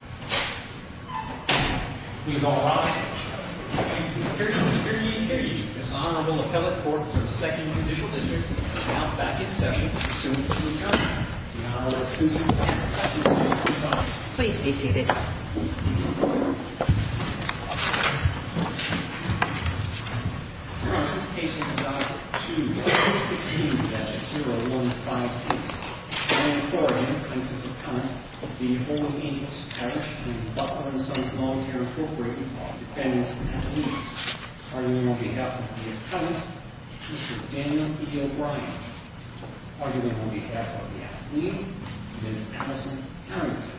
We have arrived. Here to prepare the occasion is Honorable Appellate Court for the 2nd Judicial District. We will now back in session as soon as we can. The Honorable Assistant Attorney for the District of Columbia. Please be seated. This case is adopted 2-16-0158. Brian Corrigan, plaintiff's attorney. The Holy Angels Parish and the Buffalo & Sons Lawfare Incorporated are defendants and attorneys. Arguing on behalf of the attorney, Mr. Daniel E. O'Brien. Arguing on behalf of the attorney, Ms. Allison Harrington.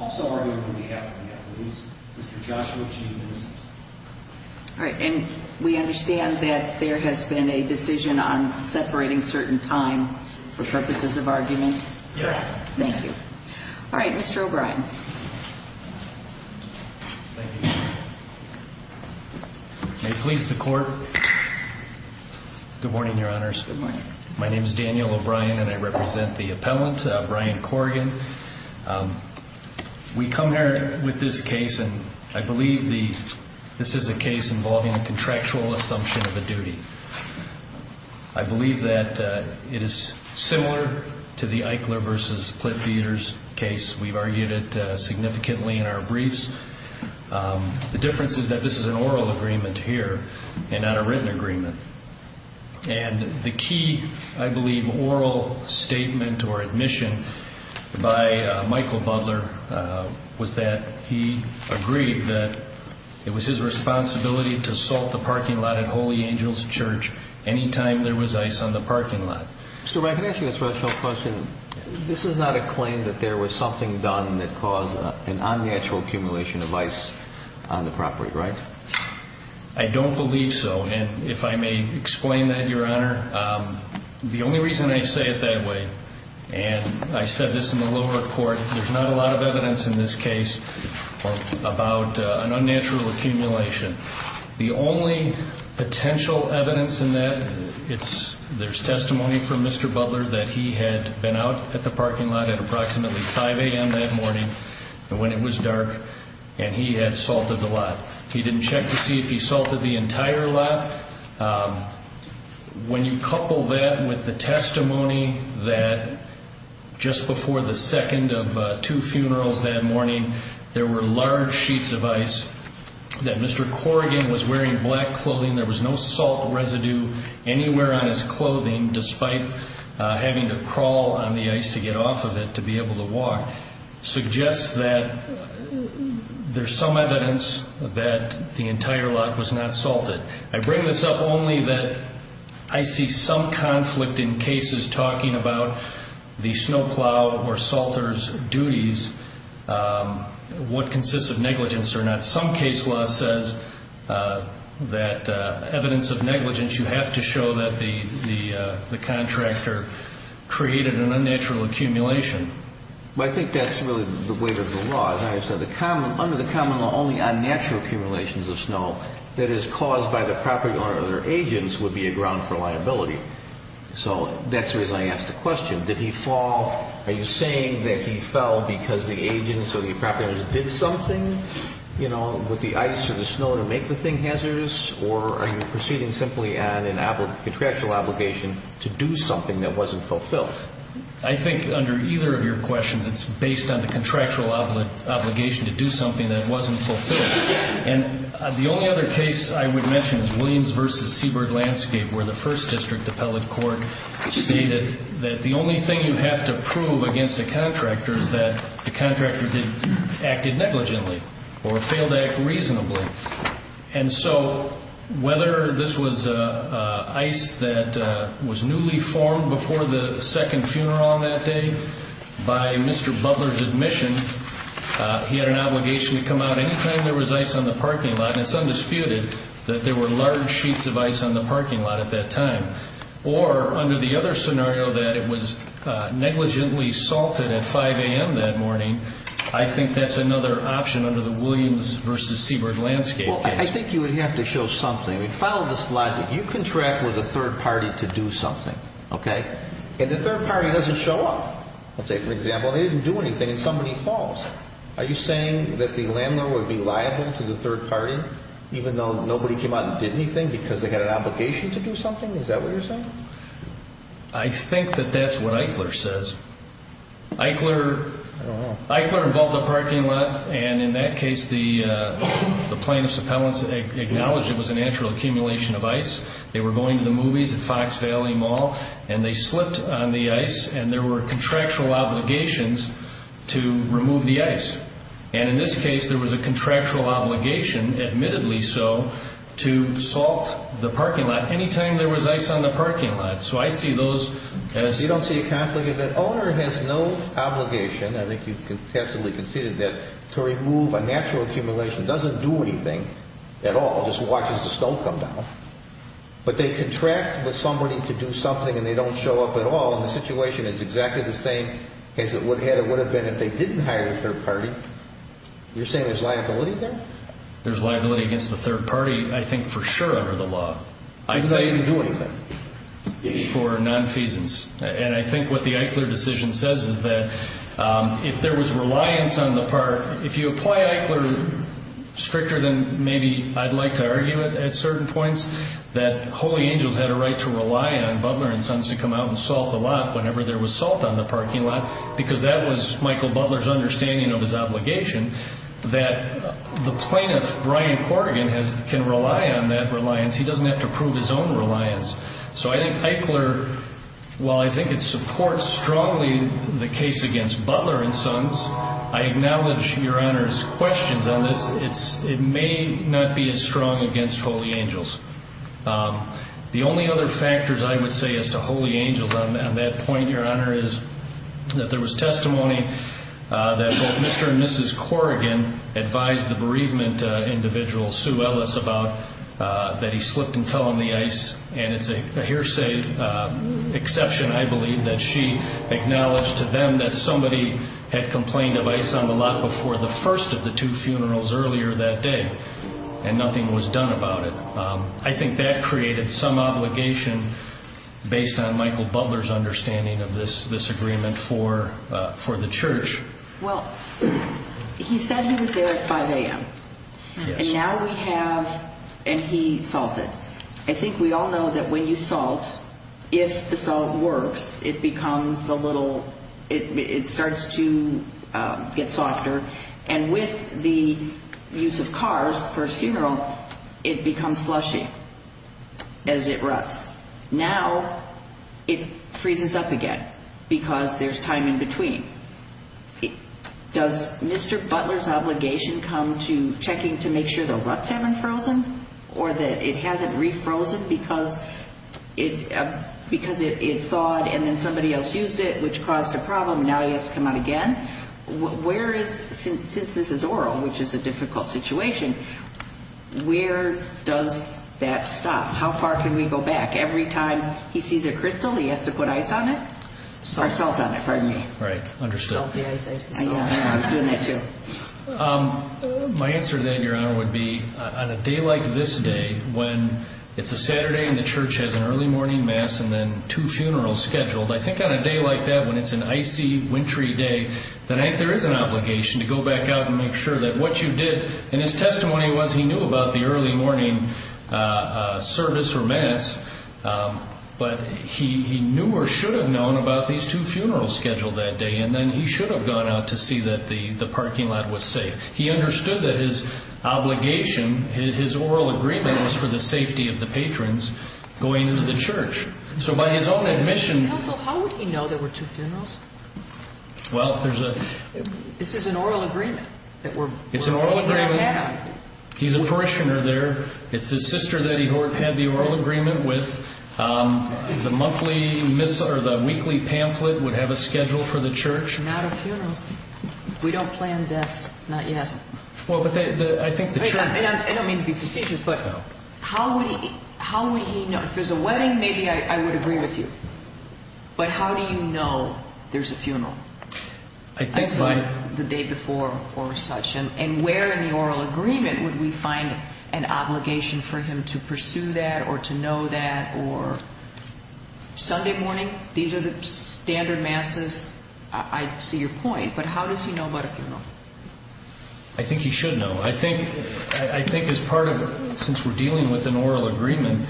Also arguing on behalf of the attorney, Mr. Joshua G. Vincent. All right, and we understand that there has been a decision on separating certain time for purposes of argument? Yes. Thank you. All right, Mr. O'Brien. Thank you. May it please the Court. Good morning, Your Honors. Good morning. My name is Daniel O'Brien and I represent the appellant, Brian Corrigan. We come here with this case, and I believe this is a case involving a contractual assumption of a duty. I believe that it is similar to the Eichler v. Cliff Eaters case. We've argued it significantly in our briefs. The difference is that this is an oral agreement here and not a written agreement. And the key, I believe, oral statement or admission by Michael Butler was that he agreed that it was his responsibility to salt the parking lot at Holy Angels Church anytime there was ice on the parking lot. Mr. O'Brien, can I ask you a special question? This is not a claim that there was something done that caused an unnatural accumulation of ice on the property, right? I don't believe so. And if I may explain that, Your Honor, the only reason I say it that way, and I said this in the lower court, there's not a lot of evidence in this case about an unnatural accumulation. The only potential evidence in that, there's testimony from Mr. Butler that he had been out at the parking lot at approximately 5 a.m. that morning when it was dark, and he had salted the lot. He didn't check to see if he salted the entire lot. When you couple that with the testimony that just before the second of two funerals that morning, there were large sheets of ice, that Mr. Corrigan was wearing black clothing, there was no salt residue anywhere on his clothing, despite having to crawl on the ice to get off of it to be able to walk, suggests that there's some evidence that the entire lot was not salted. I bring this up only that I see some conflict in cases talking about the snow plow or salters' duties, what consists of negligence or not. Some case law says that evidence of negligence, you have to show that the contractor created an unnatural accumulation. I think that's really the weight of the law. Under the common law, only unnatural accumulations of snow that is caused by the property owner or their agents would be a ground for liability. That's the reason I asked the question. Did he fall? Are you saying that he fell because the agents or the property owners did something with the ice or the snow to make the thing hazardous? Or are you proceeding simply on a contractual obligation to do something that wasn't fulfilled? I think under either of your questions, it's based on the contractual obligation to do something that wasn't fulfilled. The only other case I would mention is Williams v. Seabird Landscape, where the 1st District Appellate Court stated that the only thing you have to prove against a contractor is that the contractor acted negligently or failed to act reasonably. Whether this was ice that was newly formed before the second funeral on that day by Mr. Butler's admission, he had an obligation to come out any time there was ice on the parking lot. It's undisputed that there were large sheets of ice on the parking lot at that time. Or under the other scenario that it was negligently salted at 5 a.m. that morning, I think that's another option under the Williams v. Seabird Landscape case. I think you would have to show something. Follow this logic. You contract with a third party to do something, okay? And the third party doesn't show up. Let's say, for example, they didn't do anything and somebody falls. Are you saying that the landlord would be liable to the third party even though nobody came out and did anything because they had an obligation to do something? Is that what you're saying? I think that that's what Eichler says. Eichler involved a parking lot, and in that case, the plaintiff's appellants acknowledged it was a natural accumulation of ice. They were going to the movies at Fox Valley Mall, and they slipped on the ice, and there were contractual obligations to remove the ice. And in this case, there was a contractual obligation, admittedly so, to salt the parking lot any time there was ice on the parking lot. So I see those as... You don't see a conflict of that. The owner has no obligation. I think you contestably conceded that. To remove a natural accumulation doesn't do anything at all. It just watches the snow come down. But they contract with somebody to do something, and they don't show up at all. And the situation is exactly the same as it would have been if they didn't hire a third party. You're saying there's liability there? There's liability against the third party I think for sure under the law. They didn't do anything. For nonfeasance. And I think what the Eichler decision says is that if there was reliance on the part, if you apply Eichler stricter than maybe I'd like to argue it at certain points, that Holy Angels had a right to rely on Butler & Sons to come out and salt the lot whenever there was salt on the parking lot because that was Michael Butler's understanding of his obligation, that the plaintiff, Brian Corrigan, can rely on that reliance. He doesn't have to prove his own reliance. So I think Eichler, while I think it supports strongly the case against Butler & Sons, I acknowledge Your Honor's questions on this. It may not be as strong against Holy Angels. The only other factors I would say as to Holy Angels on that point, Your Honor, is that there was testimony that both Mr. and Mrs. Corrigan advised the bereavement individual, Sue Ellis, about that he slipped and fell on the ice. And it's a hearsay exception, I believe, that she acknowledged to them that somebody had complained of ice on the lot before the first of the two funerals earlier that day and nothing was done about it. I think that created some obligation based on Michael Butler's understanding of this agreement for the church. Well, he said he was there at 5 a.m. Yes. And now we have, and he salted. I think we all know that when you salt, if the salt works, it becomes a little, it starts to get softer. And with the use of cars for a funeral, it becomes slushy as it ruts. Now it freezes up again because there's time in between. Does Mr. Butler's obligation come to checking to make sure the ruts haven't frozen or that it hasn't refrozen because it thawed and then somebody else used it, which caused a problem, and now it has to come out again? Where is, since this is oral, which is a difficult situation, where does that stop? How far can we go back? Every time he sees a crystal, he has to put ice on it or salt on it. Pardon me. Right. Understood. Salt the ice. I was doing that too. My answer to that, Your Honor, would be on a day like this day when it's a Saturday and the church has an early morning mass and then two funerals scheduled, I think on a day like that when it's an icy, wintry day, there is an obligation to go back out and make sure that what you did, and his testimony was he knew about the early morning service or mass, but he knew or should have known about these two funerals scheduled that day and then he should have gone out to see that the parking lot was safe. He understood that his obligation, his oral agreement, was for the safety of the patrons going to the church. So by his own admission— Counsel, how would he know there were two funerals? Well, there's a— This is an oral agreement that we're— It's an oral agreement. He's a parishioner there. It's his sister that he had the oral agreement with. The weekly pamphlet would have a schedule for the church. Not a funeral. We don't plan deaths, not yet. Well, but I think the church— I don't mean to be facetious, but how would he know? If there's a wedding, maybe I would agree with you. But how do you know there's a funeral? I think by— Until the day before or such. And where in the oral agreement would we find an obligation for him to pursue that or to know that? Or Sunday morning? These are the standard masses. I see your point, but how does he know about a funeral? I think he should know. I think as part of—since we're dealing with an oral agreement,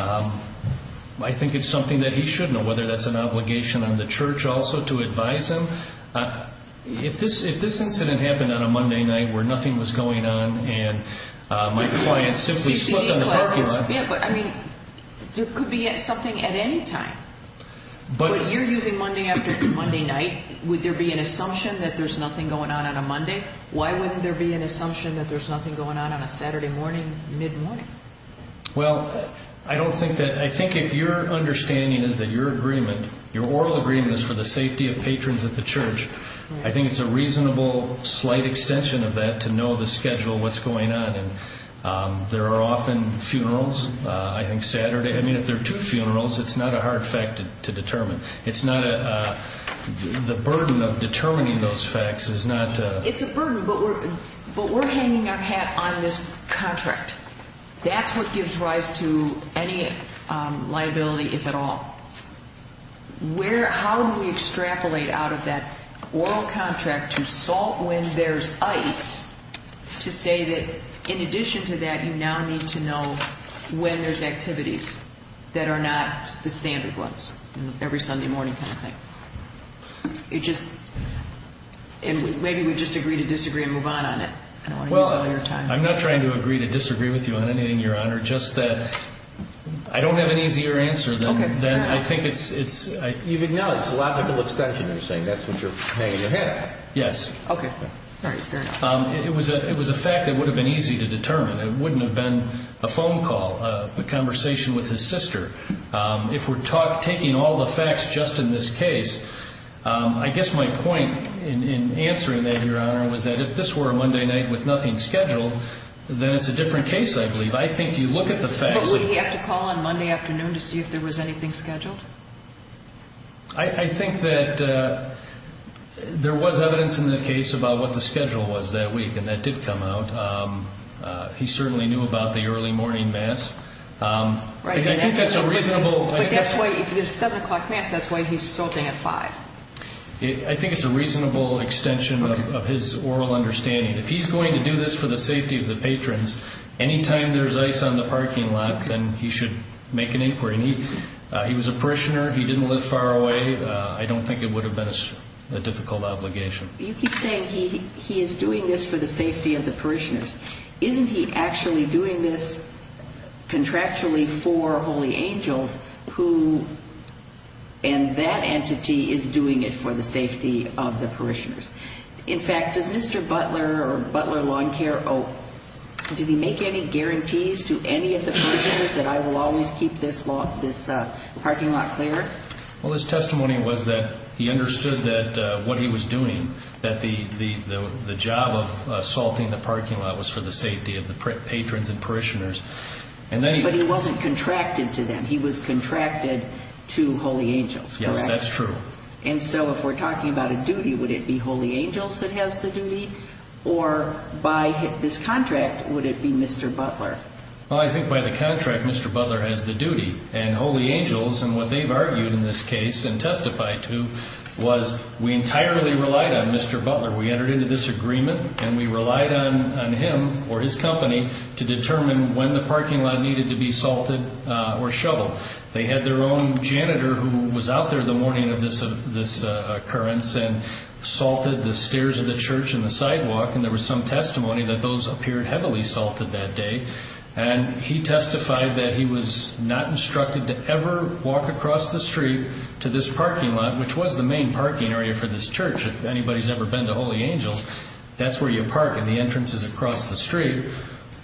I think it's something that he should know, whether that's an obligation on the church also to advise him. If this incident happened on a Monday night where nothing was going on and my client simply slipped on the parking lot— Yeah, but I mean, there could be something at any time. But you're using Monday after Monday night. Would there be an assumption that there's nothing going on on a Monday? Why wouldn't there be an assumption that there's nothing going on on a Saturday morning, mid-morning? Well, I don't think that—I think if your understanding is that your agreement, for the safety of patrons at the church, I think it's a reasonable slight extension of that to know the schedule of what's going on. And there are often funerals, I think Saturday. I mean, if there are two funerals, it's not a hard fact to determine. It's not a—the burden of determining those facts is not— It's a burden, but we're hanging our hat on this contract. That's what gives rise to any liability, if at all. How do we extrapolate out of that oral contract to salt when there's ice to say that in addition to that, you now need to know when there's activities that are not the standard ones, every Sunday morning kind of thing? It just—and maybe we just agree to disagree and move on on it. I don't want to use all your time. Well, I'm not trying to agree to disagree with you on anything, Your Honor. Just that I don't have an easier answer than I think it's— Even now, it's a logical extension. You're saying that's what you're hanging your hat on. Yes. Okay. All right. It was a fact that would have been easy to determine. It wouldn't have been a phone call, a conversation with his sister. If we're taking all the facts just in this case, I guess my point in answering that, Your Honor, was that if this were a Monday night with nothing scheduled, then it's a different case, I believe. I think you look at the facts— But would he have to call on Monday afternoon to see if there was anything scheduled? I think that there was evidence in the case about what the schedule was that week, and that did come out. He certainly knew about the early morning mass. I think that's a reasonable— But that's why—if there's a 7 o'clock mass, that's why he's sorting at 5. I think it's a reasonable extension of his oral understanding. If he's going to do this for the safety of the patrons, anytime there's ice on the parking lot, then he should make an inquiry. He was a parishioner. He didn't live far away. I don't think it would have been a difficult obligation. You keep saying he is doing this for the safety of the parishioners. Isn't he actually doing this contractually for Holy Angels, and that entity is doing it for the safety of the parishioners? In fact, does Mr. Butler or Butler Lawn Care, did he make any guarantees to any of the parishioners that I will always keep this parking lot clear? Well, his testimony was that he understood what he was doing, that the job of salting the parking lot was for the safety of the patrons and parishioners. But he wasn't contracted to them. He was contracted to Holy Angels, correct? Yes, that's true. And so if we're talking about a duty, would it be Holy Angels that has the duty, or by this contract, would it be Mr. Butler? Well, I think by the contract, Mr. Butler has the duty. And Holy Angels, and what they've argued in this case and testified to, was we entirely relied on Mr. Butler. We entered into this agreement, and we relied on him or his company to determine when the parking lot needed to be salted or shoveled. They had their own janitor who was out there the morning of this occurrence and salted the stairs of the church and the sidewalk, and there was some testimony that those appeared heavily salted that day. And he testified that he was not instructed to ever walk across the street to this parking lot, which was the main parking area for this church, if anybody's ever been to Holy Angels. That's where you park, and the entrance is across the street.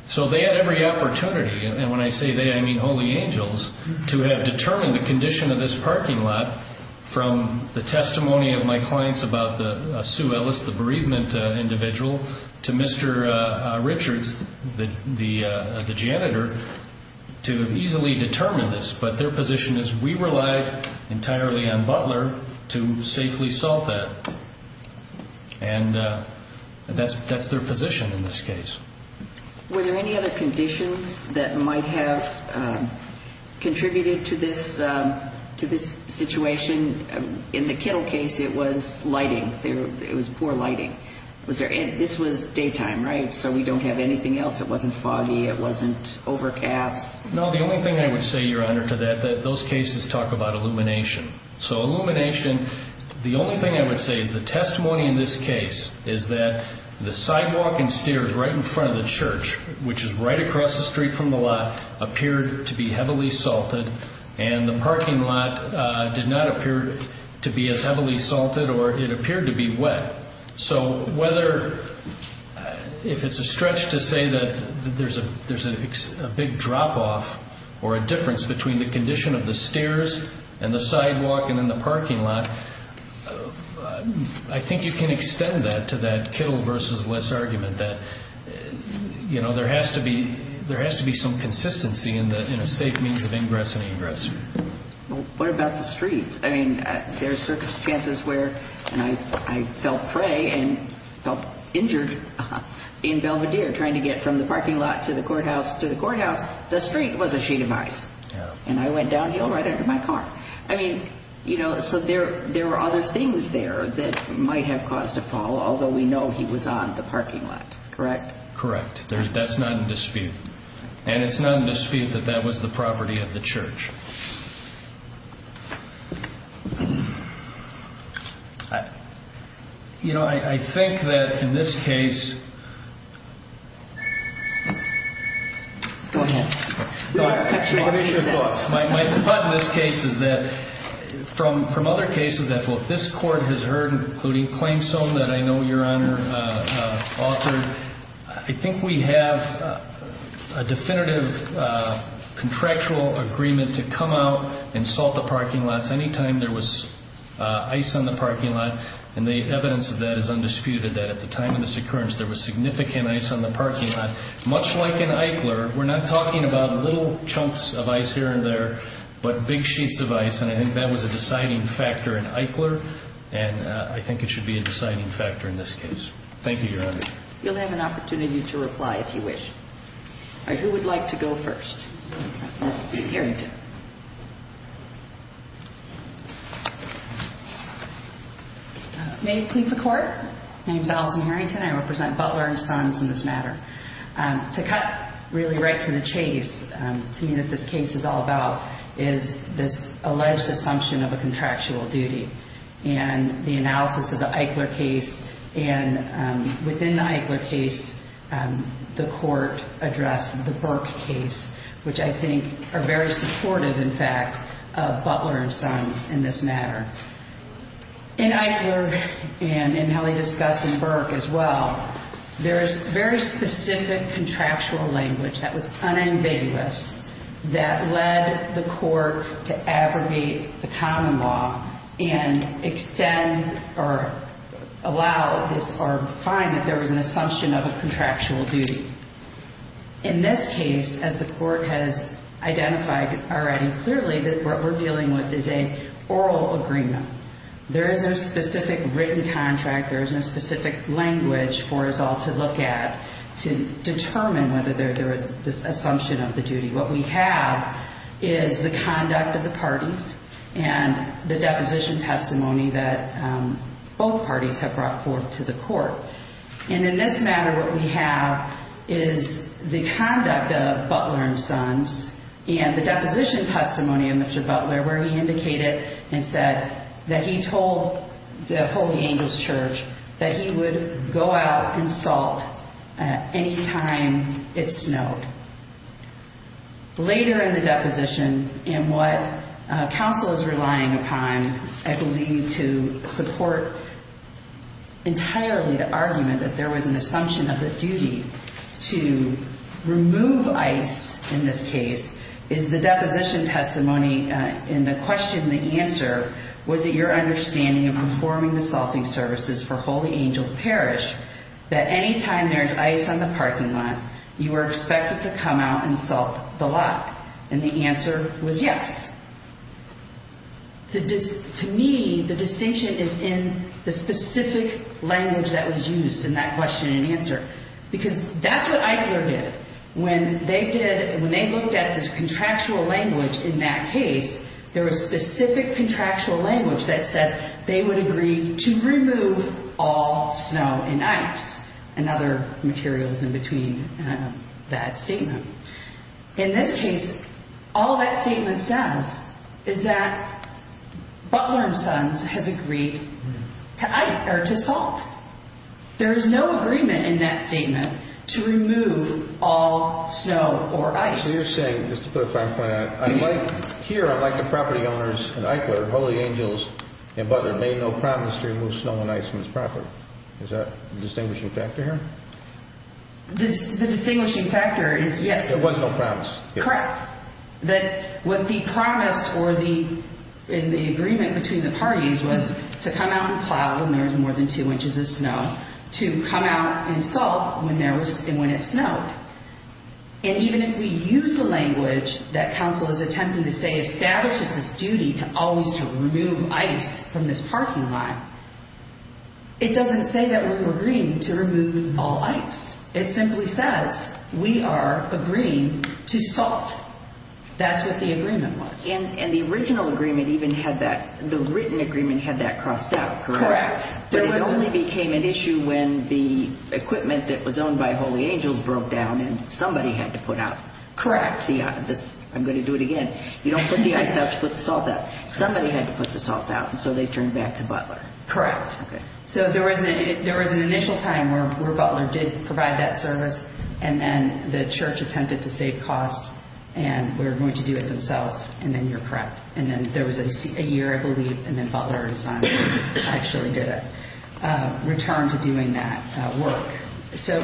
So they had every opportunity, and when I say they, I mean Holy Angels, to have determined the condition of this parking lot from the testimony of my clients about Sue Ellis, the bereavement individual, to Mr. Richards, the janitor, to have easily determined this. But their position is we relied entirely on Butler to safely salt that. And that's their position in this case. Were there any other conditions that might have contributed to this situation? In the Kittle case, it was lighting. It was poor lighting. This was daytime, right? So we don't have anything else. It wasn't foggy. It wasn't overcast. No, the only thing I would say, Your Honor, to that, those cases talk about illumination. So illumination, the only thing I would say is the testimony in this case is that the sidewalk and stairs right in front of the church, which is right across the street from the lot, appeared to be heavily salted, and the parking lot did not appear to be as heavily salted, or it appeared to be wet. So whether, if it's a stretch to say that there's a big drop-off or a difference between the condition of the stairs and the sidewalk and then the parking lot, I think you can extend that to that Kittle versus Liss argument that there has to be some consistency in a safe means of ingress and egress. Well, what about the street? I mean, there are circumstances where I felt prey and felt injured in Belvedere trying to get from the parking lot to the courthouse to the courthouse. The street was a sheet of ice, and I went downhill right under my car. I mean, you know, so there were other things there that might have caused a fall, although we know he was on the parking lot, correct? Correct. That's not in dispute. And it's not in dispute that that was the property of the church. You know, I think that in this case, my thought in this case is that from other cases that both this Court has heard, including claims some that I know Your Honor authored, I think we have a definitive contractual agreement to come out and salt the parking lots any time there was ice on the parking lot, and the evidence of that is undisputed that at the time of this occurrence there was significant ice on the parking lot, much like in Eichler. We're not talking about little chunks of ice here and there, but big sheets of ice, and I think that was a deciding factor in Eichler, and I think it should be a deciding factor in this case. Thank you, Your Honor. You'll have an opportunity to reply if you wish. All right, who would like to go first? Ms. Harrington. May it please the Court? My name is Allison Harrington. I represent Butler and Sons in this matter. To cut really right to the chase to me that this case is all about is this alleged assumption of a contractual duty, and the analysis of the Eichler case, and within the Eichler case the Court addressed the Burke case, which I think are very supportive, in fact, of Butler and Sons in this matter. In Eichler, and in how they discuss in Burke as well, there is very specific contractual language that was unambiguous that led the Court to abrogate the common law and extend or allow this or find that there was an assumption of a contractual duty. In this case, as the Court has identified already clearly, that what we're dealing with is an oral agreement. There is no specific written contract. There is no specific language for us all to look at to determine whether there is this assumption of the duty. What we have is the conduct of the parties and the deposition testimony that both parties have brought forth to the Court. And in this matter, what we have is the conduct of Butler and Sons and the deposition testimony of Mr. Butler, where he indicated and said that he told the Holy Angels Church that he would go out and salt any time it snowed. Later in the deposition, and what counsel is relying upon, I believe to support entirely the argument that there was an assumption of the duty to remove ice in this case, is the deposition testimony, and the question and the answer was that your understanding of performing the salting services for Holy Angels Parish, that any time there's ice on the parking lot, you were expected to come out and salt the lot. And the answer was yes. To me, the distinction is in the specific language that was used in that question and answer, because that's what Eichler did. When they looked at this contractual language in that case, there was specific contractual language that said they would agree to remove all snow and ice, and other materials in between that statement. In this case, all that statement says is that Butler and Sons has agreed to salt. There is no agreement in that statement to remove all snow or ice. So you're saying, just to put a fine point on it, here, unlike the property owners in Eichler, Holy Angels and Butler made no promise to remove snow and ice from this property. Is that the distinguishing factor here? The distinguishing factor is yes. There was no promise. Correct. That what the promise or the agreement between the parties was to come out and plow when there was more than two inches of snow, to come out and salt when it snowed. And even if we use the language that counsel is attempting to say establishes its duty to always remove ice from this parking lot, it doesn't say that we've agreed to remove all ice. It simply says we are agreeing to salt. That's what the agreement was. And the original agreement even had that, the written agreement had that crossed out, correct? Correct. But it only became an issue when the equipment that was owned by Holy Angels broke down and somebody had to put out. Correct. I'm going to do it again. You don't put the ice out, you put the salt out. Somebody had to put the salt out, and so they turned back to Butler. Correct. Okay. So there was an initial time where Butler did provide that service, and then the church attempted to save costs and were going to do it themselves, and then you're correct. And then there was a year, I believe, and then Butler and Simon actually did a return to doing that work. So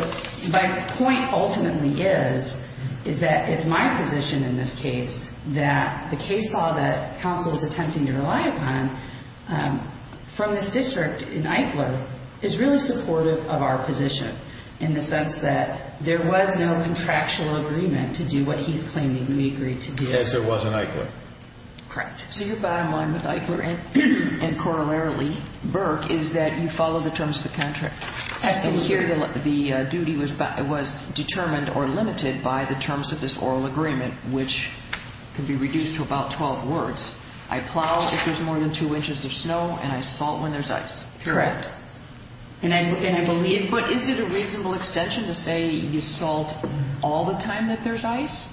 my point ultimately is that it's my position in this case that the case law that counsel is attempting to rely upon from this district in Eichler is really supportive of our position in the sense that there was no contractual agreement to do what he's claiming we agreed to do. Yes, there was in Eichler. Correct. So your bottom line with Eichler and corollarily Burke is that you follow the terms of the contract. Yes. And here the duty was determined or limited by the terms of this oral agreement, which can be reduced to about 12 words. I plow if there's more than two inches of snow, and I salt when there's ice. Correct. But is it a reasonable extension to say you salt all the time that there's ice?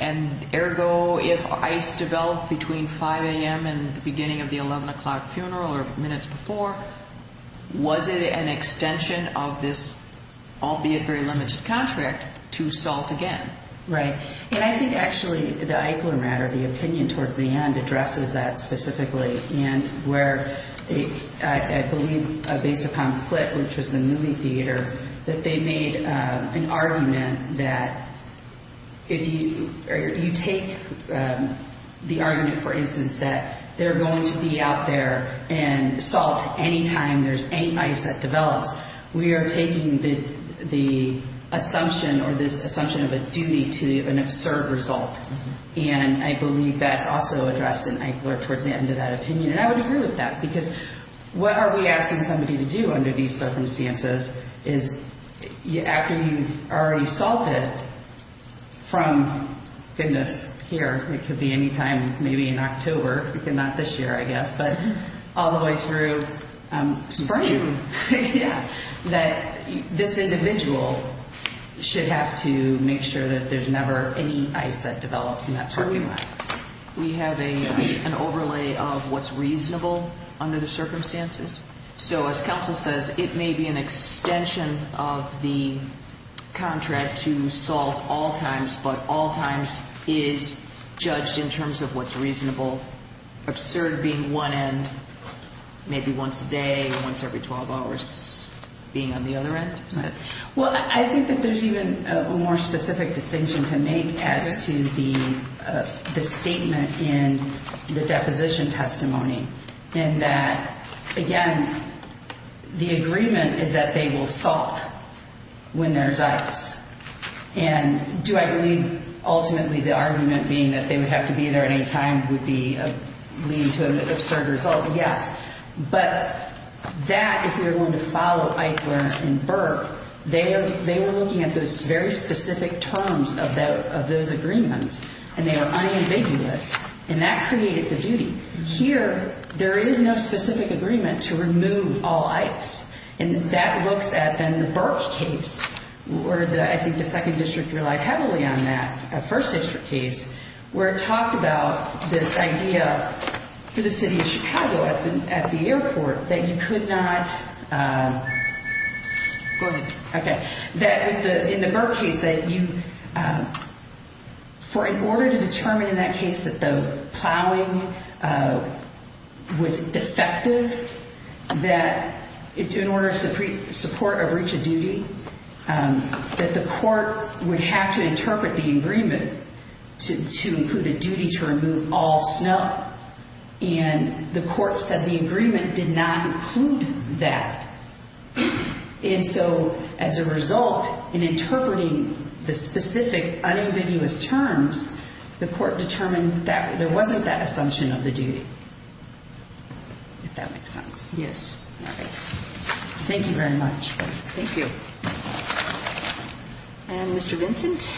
And ergo, if ice developed between 5 a.m. and the beginning of the 11 o'clock funeral or minutes before, was it an extension of this albeit very limited contract to salt again? Right. And I think actually the Eichler matter, the opinion towards the end, addresses that specifically. And where I believe based upon the clip, which was the movie theater, that they made an argument that if you take the argument, for instance, that they're going to be out there and salt any time there's any ice that develops, we are taking the assumption or this assumption of a duty to an absurd result. And I believe that's also addressed in Eichler towards the end of that opinion. And I would agree with that because what are we asking somebody to do under these circumstances is after you've already salted from goodness, here, it could be any time, maybe in October, not this year I guess, but all the way through spring, that this individual should have to make sure that there's never any ice that develops in that parking lot. We have an overlay of what's reasonable under the circumstances. So as counsel says, it may be an extension of the contract to salt all times, but all times is judged in terms of what's reasonable. Absurd being one end, maybe once a day, once every 12 hours, being on the other end? Well, I think that there's even a more specific distinction to make as to the statement in the deposition testimony in that, again, the agreement is that they will salt when there's ice. And do I believe ultimately the argument being that they would have to be there at any time would lead to an absurd result? Yes. But that, if you're going to follow Eichler and Berg, they were looking at those very specific terms of those agreements, and they were unambiguous, and that created the duty. Here, there is no specific agreement to remove all ice, and that looks at, then, the Berg case, where I think the 2nd District relied heavily on that 1st District case, where it talked about this idea for the city of Chicago at the airport that you could not go ahead, okay, that in the Berg case, that in order to determine in that case that the plowing was defective, that in order to support a breach of duty, that the court would have to interpret the agreement to include a duty to remove all snow, and the court said the agreement did not include that. And so as a result, in interpreting the specific unambiguous terms, the court determined that there wasn't that assumption of the duty, if that makes sense. Yes. All right. Thank you very much. Thank you. And Mr. Vincent?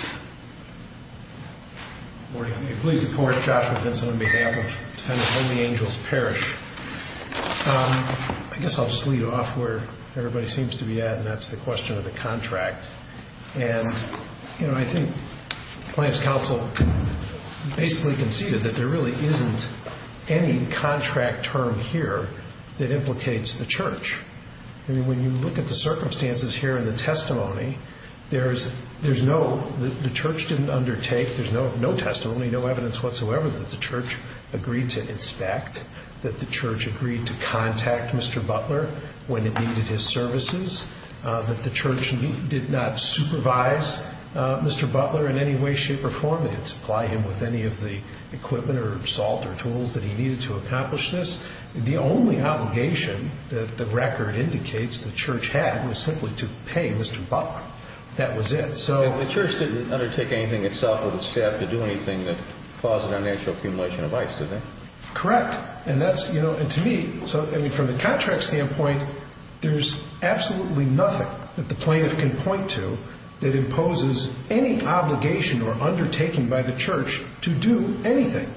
Good morning. I'm going to please the Court, Joshua Vincent, on behalf of Defendant Holy Angel's Parish. I guess I'll just lead off where everybody seems to be at, and that's the question of the contract. And, you know, I think the Plans Council basically conceded that there really isn't any contract term here that implicates the Church. I mean, when you look at the circumstances here in the testimony, there's no, the Church didn't undertake, there's no testimony, no evidence whatsoever that the Church agreed to inspect, that the Church agreed to contact Mr. Butler when it needed his services, that the Church did not supervise Mr. Butler in any way, shape, or form. They didn't supply him with any of the equipment or salt or tools that he needed to accomplish this. The only obligation that the record indicates the Church had was simply to pay Mr. Butler. That was it. The Church didn't undertake anything itself or the staff to do anything that caused financial accumulation of ice, did they? Correct. And that's, you know, and to me, so, I mean, from the contract standpoint, there's absolutely nothing that the plaintiff can point to that imposes any obligation or undertaking by the Church to do anything.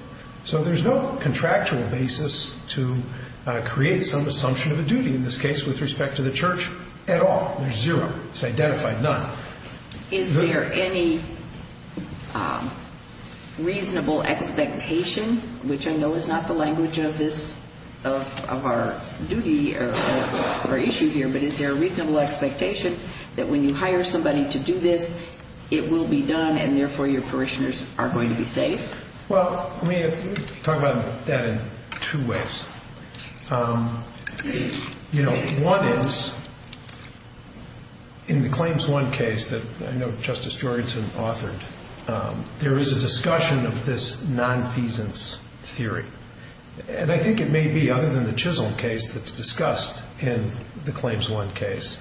So there's no contractual basis to create some assumption of a duty in this case with respect to the Church at all. There's zero. It's identified none. Is there any reasonable expectation, which I know is not the language of this, of our duty or issue here, but is there a reasonable expectation that when you hire somebody to do this, it will be done and therefore your parishioners are going to be safe? Well, let me talk about that in two ways. You know, one is in the Claims I case that I know Justice Jorgenson authored, there is a discussion of this nonfeasance theory. And I think it may be, other than the Chisholm case that's discussed in the Claims I case,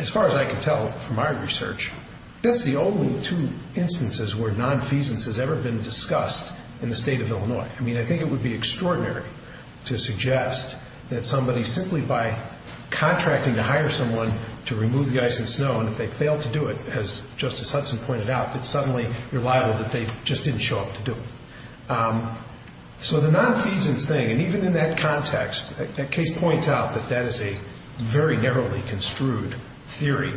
as far as I can tell from our research, that's the only two instances where nonfeasance has ever been discussed in the state of Illinois. I mean, I think it would be extraordinary to suggest that somebody, simply by contracting to hire someone to remove the ice and snow, and if they fail to do it, as Justice Hudson pointed out, that suddenly you're liable that they just didn't show up to do it. So the nonfeasance thing, and even in that context, that case points out that that is a very narrowly construed theory.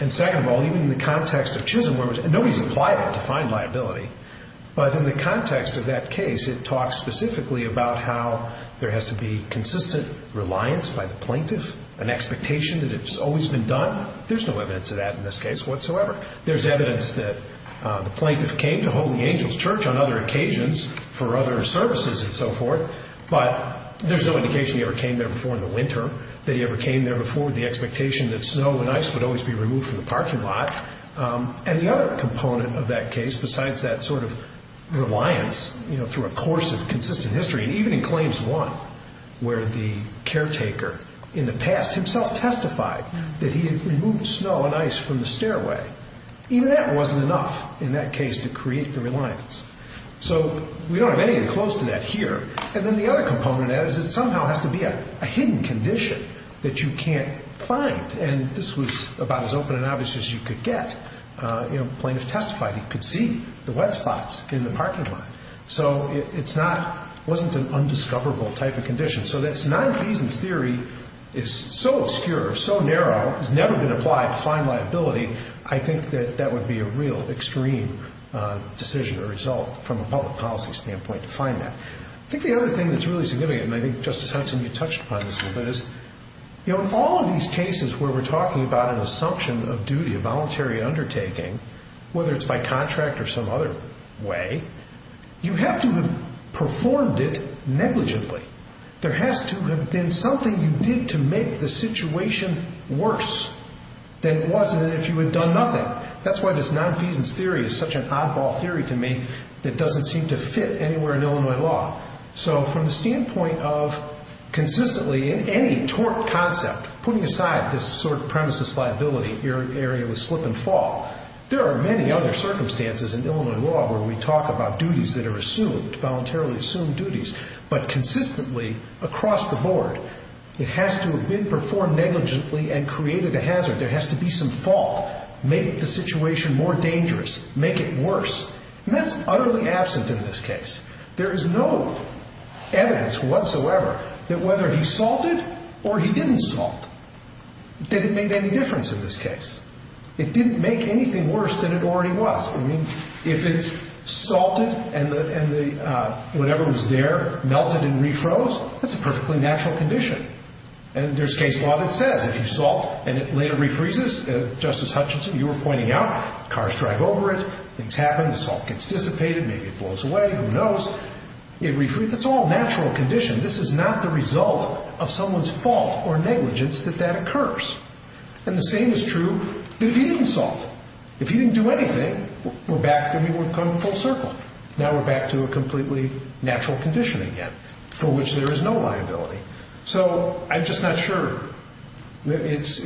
And second of all, even in the context of Chisholm, where nobody is liable to find liability, but in the context of that case, it talks specifically about how there has to be consistent reliance by the plaintiff, an expectation that it's always been done. There's no evidence of that in this case whatsoever. There's evidence that the plaintiff came to Holy Angels Church on other occasions for other services and so forth, but there's no indication he ever came there before in the winter, that he ever came there before, the expectation that snow and ice would always be removed from the parking lot. And the other component of that case, besides that sort of reliance, you know, through a course of consistent history, and even in Claims 1, where the caretaker in the past himself testified that he had removed snow and ice from the stairway, even that wasn't enough in that case to create the reliance. So we don't have anything close to that here. And then the other component is it somehow has to be a hidden condition that you can't find, and this was about as open and obvious as you could get. You know, the plaintiff testified he could see the wet spots in the parking lot, so it wasn't an undiscoverable type of condition. So that's nonfeasance theory is so obscure, so narrow, has never been applied to find liability, I think that that would be a real extreme decision or result from a public policy standpoint to find that. I think the other thing that's really significant, and I think Justice Hudson, you touched upon this a little bit, is all of these cases where we're talking about an assumption of duty, a voluntary undertaking, whether it's by contract or some other way, you have to have performed it negligently. There has to have been something you did to make the situation worse than it was if you had done nothing. That's why this nonfeasance theory is such an oddball theory to me that doesn't seem to fit anywhere in Illinois law. So from the standpoint of consistently in any tort concept, putting aside this sort of premises liability area with slip and fall, there are many other circumstances in Illinois law where we talk about duties that are assumed, voluntarily assumed duties, but consistently across the board, it has to have been performed negligently and created a hazard. There has to be some fault. Make the situation more dangerous. Make it worse. And that's utterly absent in this case. There is no evidence whatsoever that whether he salted or he didn't salt didn't make any difference in this case. It didn't make anything worse than it already was. I mean, if it's salted and whatever was there melted and refroze, that's a perfectly natural condition. And there's case law that says if you salt and it later refreezes, Justice Hutchinson, you were pointing out, cars drive over it, things happen, the salt gets dissipated, maybe it blows away, who knows. It refreezes. It's all a natural condition. This is not the result of someone's fault or negligence that that occurs. And the same is true if he didn't salt. If he didn't do anything, we're back, I mean, we've come full circle. Now we're back to a completely natural condition again for which there is no liability. So I'm just not sure. It's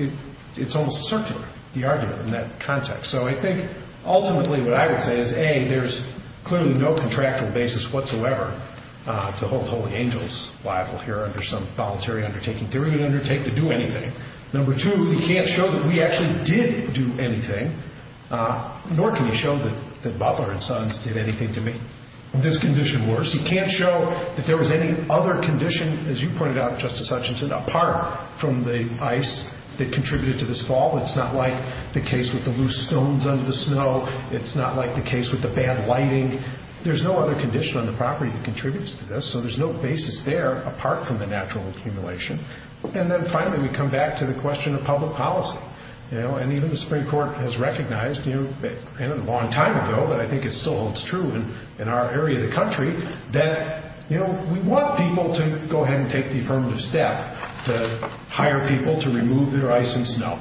almost circular, the argument in that context. So I think ultimately what I would say is, A, there's clearly no contractual basis whatsoever to hold Holy Angels liable here under some voluntary undertaking. They wouldn't undertake to do anything. Number two, he can't show that we actually did do anything, nor can he show that Butler and Sons did anything to me. This condition works. He can't show that there was any other condition, as you pointed out, Justice Hutchinson, apart from the ice that contributed to this fall. It's not like the case with the loose stones under the snow. It's not like the case with the bad lighting. There's no other condition on the property that contributes to this, so there's no basis there apart from the natural accumulation. And then finally we come back to the question of public policy. And even the Supreme Court has recognized, and a long time ago, but I think it still holds true in our area of the country, that we want people to go ahead and take the affirmative step to hire people to remove their ice and snow.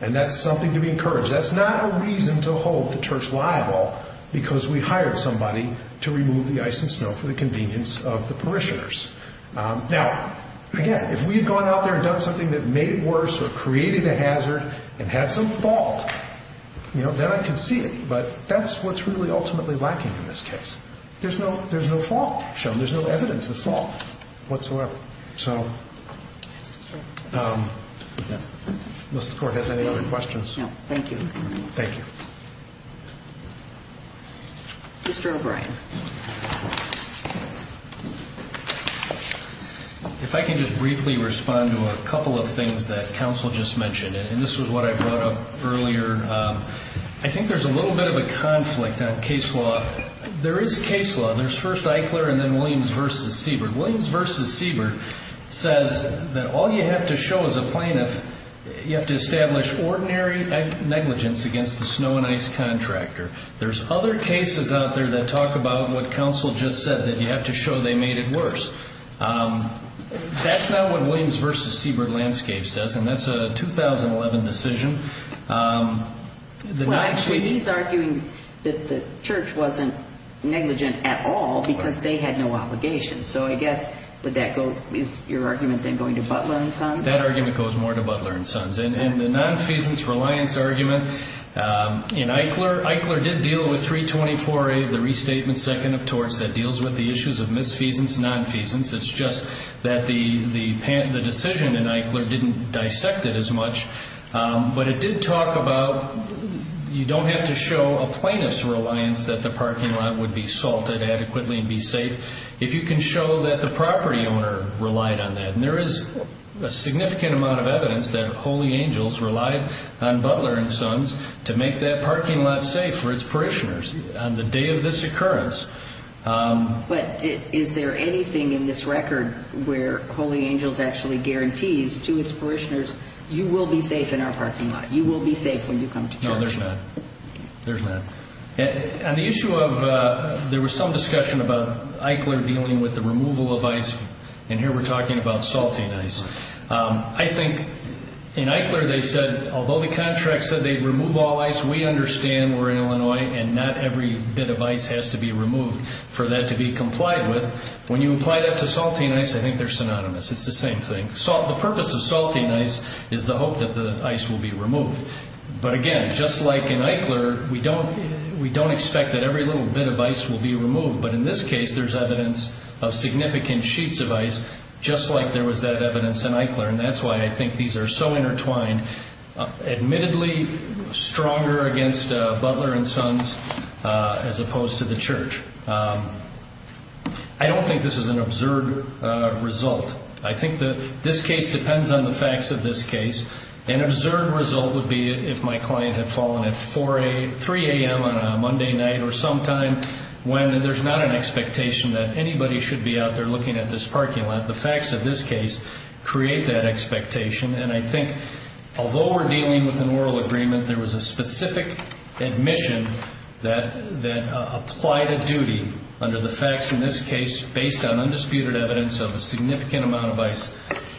And that's something to be encouraged. That's not a reason to hold the church liable because we hired somebody to remove the ice and snow for the convenience of the parishioners. Now, again, if we had gone out there and done something that made it worse or created a hazard and had some fault, then I can see it. But that's what's really ultimately lacking in this case. There's no fault shown. There's no evidence of fault whatsoever. So does the Court have any other questions? No. Thank you. Thank you. Mr. O'Brien. If I can just briefly respond to a couple of things that counsel just mentioned, and this was what I brought up earlier. I think there's a little bit of a conflict on case law. There's first Eichler and then Williams v. Siebert. Williams v. Siebert says that all you have to show as a plaintiff, you have to establish ordinary negligence against the snow and ice contractor. There's other cases out there that talk about what counsel just said, that you have to show they made it worse. That's not what Williams v. Siebert landscape says, and that's a 2011 decision. Well, actually, he's arguing that the church wasn't negligent at all because they had no obligation. So I guess is your argument then going to Butler and Sons? That argument goes more to Butler and Sons. And the nonfeasance reliance argument in Eichler, Eichler did deal with 324A, the restatement second of torts that deals with the issues of misfeasance, nonfeasance. It's just that the decision in Eichler didn't dissect it as much, but it did talk about you don't have to show a plaintiff's reliance that the parking lot would be salted adequately and be safe if you can show that the property owner relied on that. And there is a significant amount of evidence that Holy Angels relied on Butler and Sons to make that parking lot safe for its parishioners on the day of this occurrence. But is there anything in this record where Holy Angels actually guarantees to its parishioners, you will be safe in our parking lot, you will be safe when you come to church? No, there's not. There's not. On the issue of there was some discussion about Eichler dealing with the removal of ice, and here we're talking about salting ice. I think in Eichler they said, although the contract said they'd remove all ice, we understand we're in Illinois and not every bit of ice has to be removed for that to be complied with. When you apply that to salting ice, I think they're synonymous. It's the same thing. But again, just like in Eichler, we don't expect that every little bit of ice will be removed. But in this case, there's evidence of significant sheets of ice, just like there was that evidence in Eichler. And that's why I think these are so intertwined, admittedly stronger against Butler and Sons as opposed to the church. I don't think this is an absurd result. I think this case depends on the facts of this case. An absurd result would be if my client had fallen at 3 a.m. on a Monday night or sometime when there's not an expectation that anybody should be out there looking at this parking lot. The facts of this case create that expectation, and I think although we're dealing with an oral agreement, there was a specific admission that applied a duty under the facts in this case based on undisputed evidence of a significant amount of ice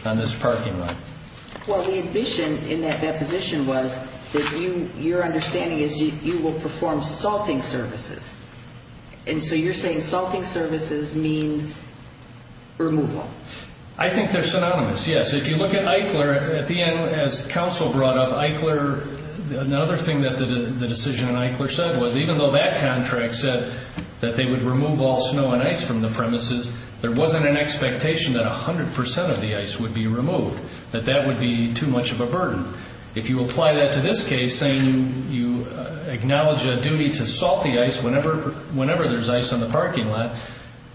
on this parking lot. Well, the admission in that deposition was that your understanding is you will perform salting services. And so you're saying salting services means removal. I think they're synonymous, yes. If you look at Eichler, at the end, as counsel brought up, Eichler, another thing that the decision in Eichler said was even though that contract said that they would remove all snow and ice from the premises, there wasn't an expectation that 100% of the ice would be removed, that that would be too much of a burden. If you apply that to this case saying you acknowledge a duty to salt the ice whenever there's ice on the parking lot,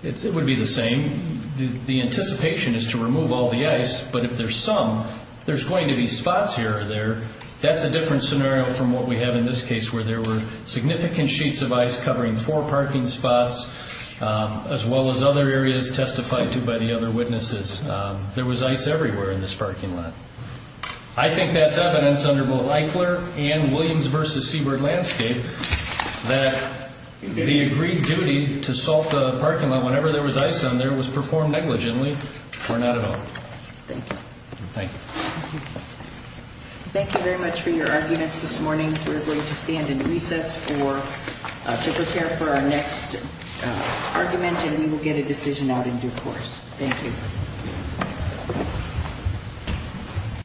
it would be the same. The anticipation is to remove all the ice, but if there's some, there's going to be spots here or there. That's a different scenario from what we have in this case where there were significant sheets of ice covering four parking spots as well as other areas testified to by the other witnesses. There was ice everywhere in this parking lot. I think that's evidence under both Eichler and Williams v. Seabird Landscape that the agreed duty to salt the parking lot whenever there was ice on there was performed negligently or not at all. Thank you. Thank you. Thank you very much for your arguments this morning. We're going to stand in recess to prepare for our next argument, and we will get a decision out in due course. Thank you.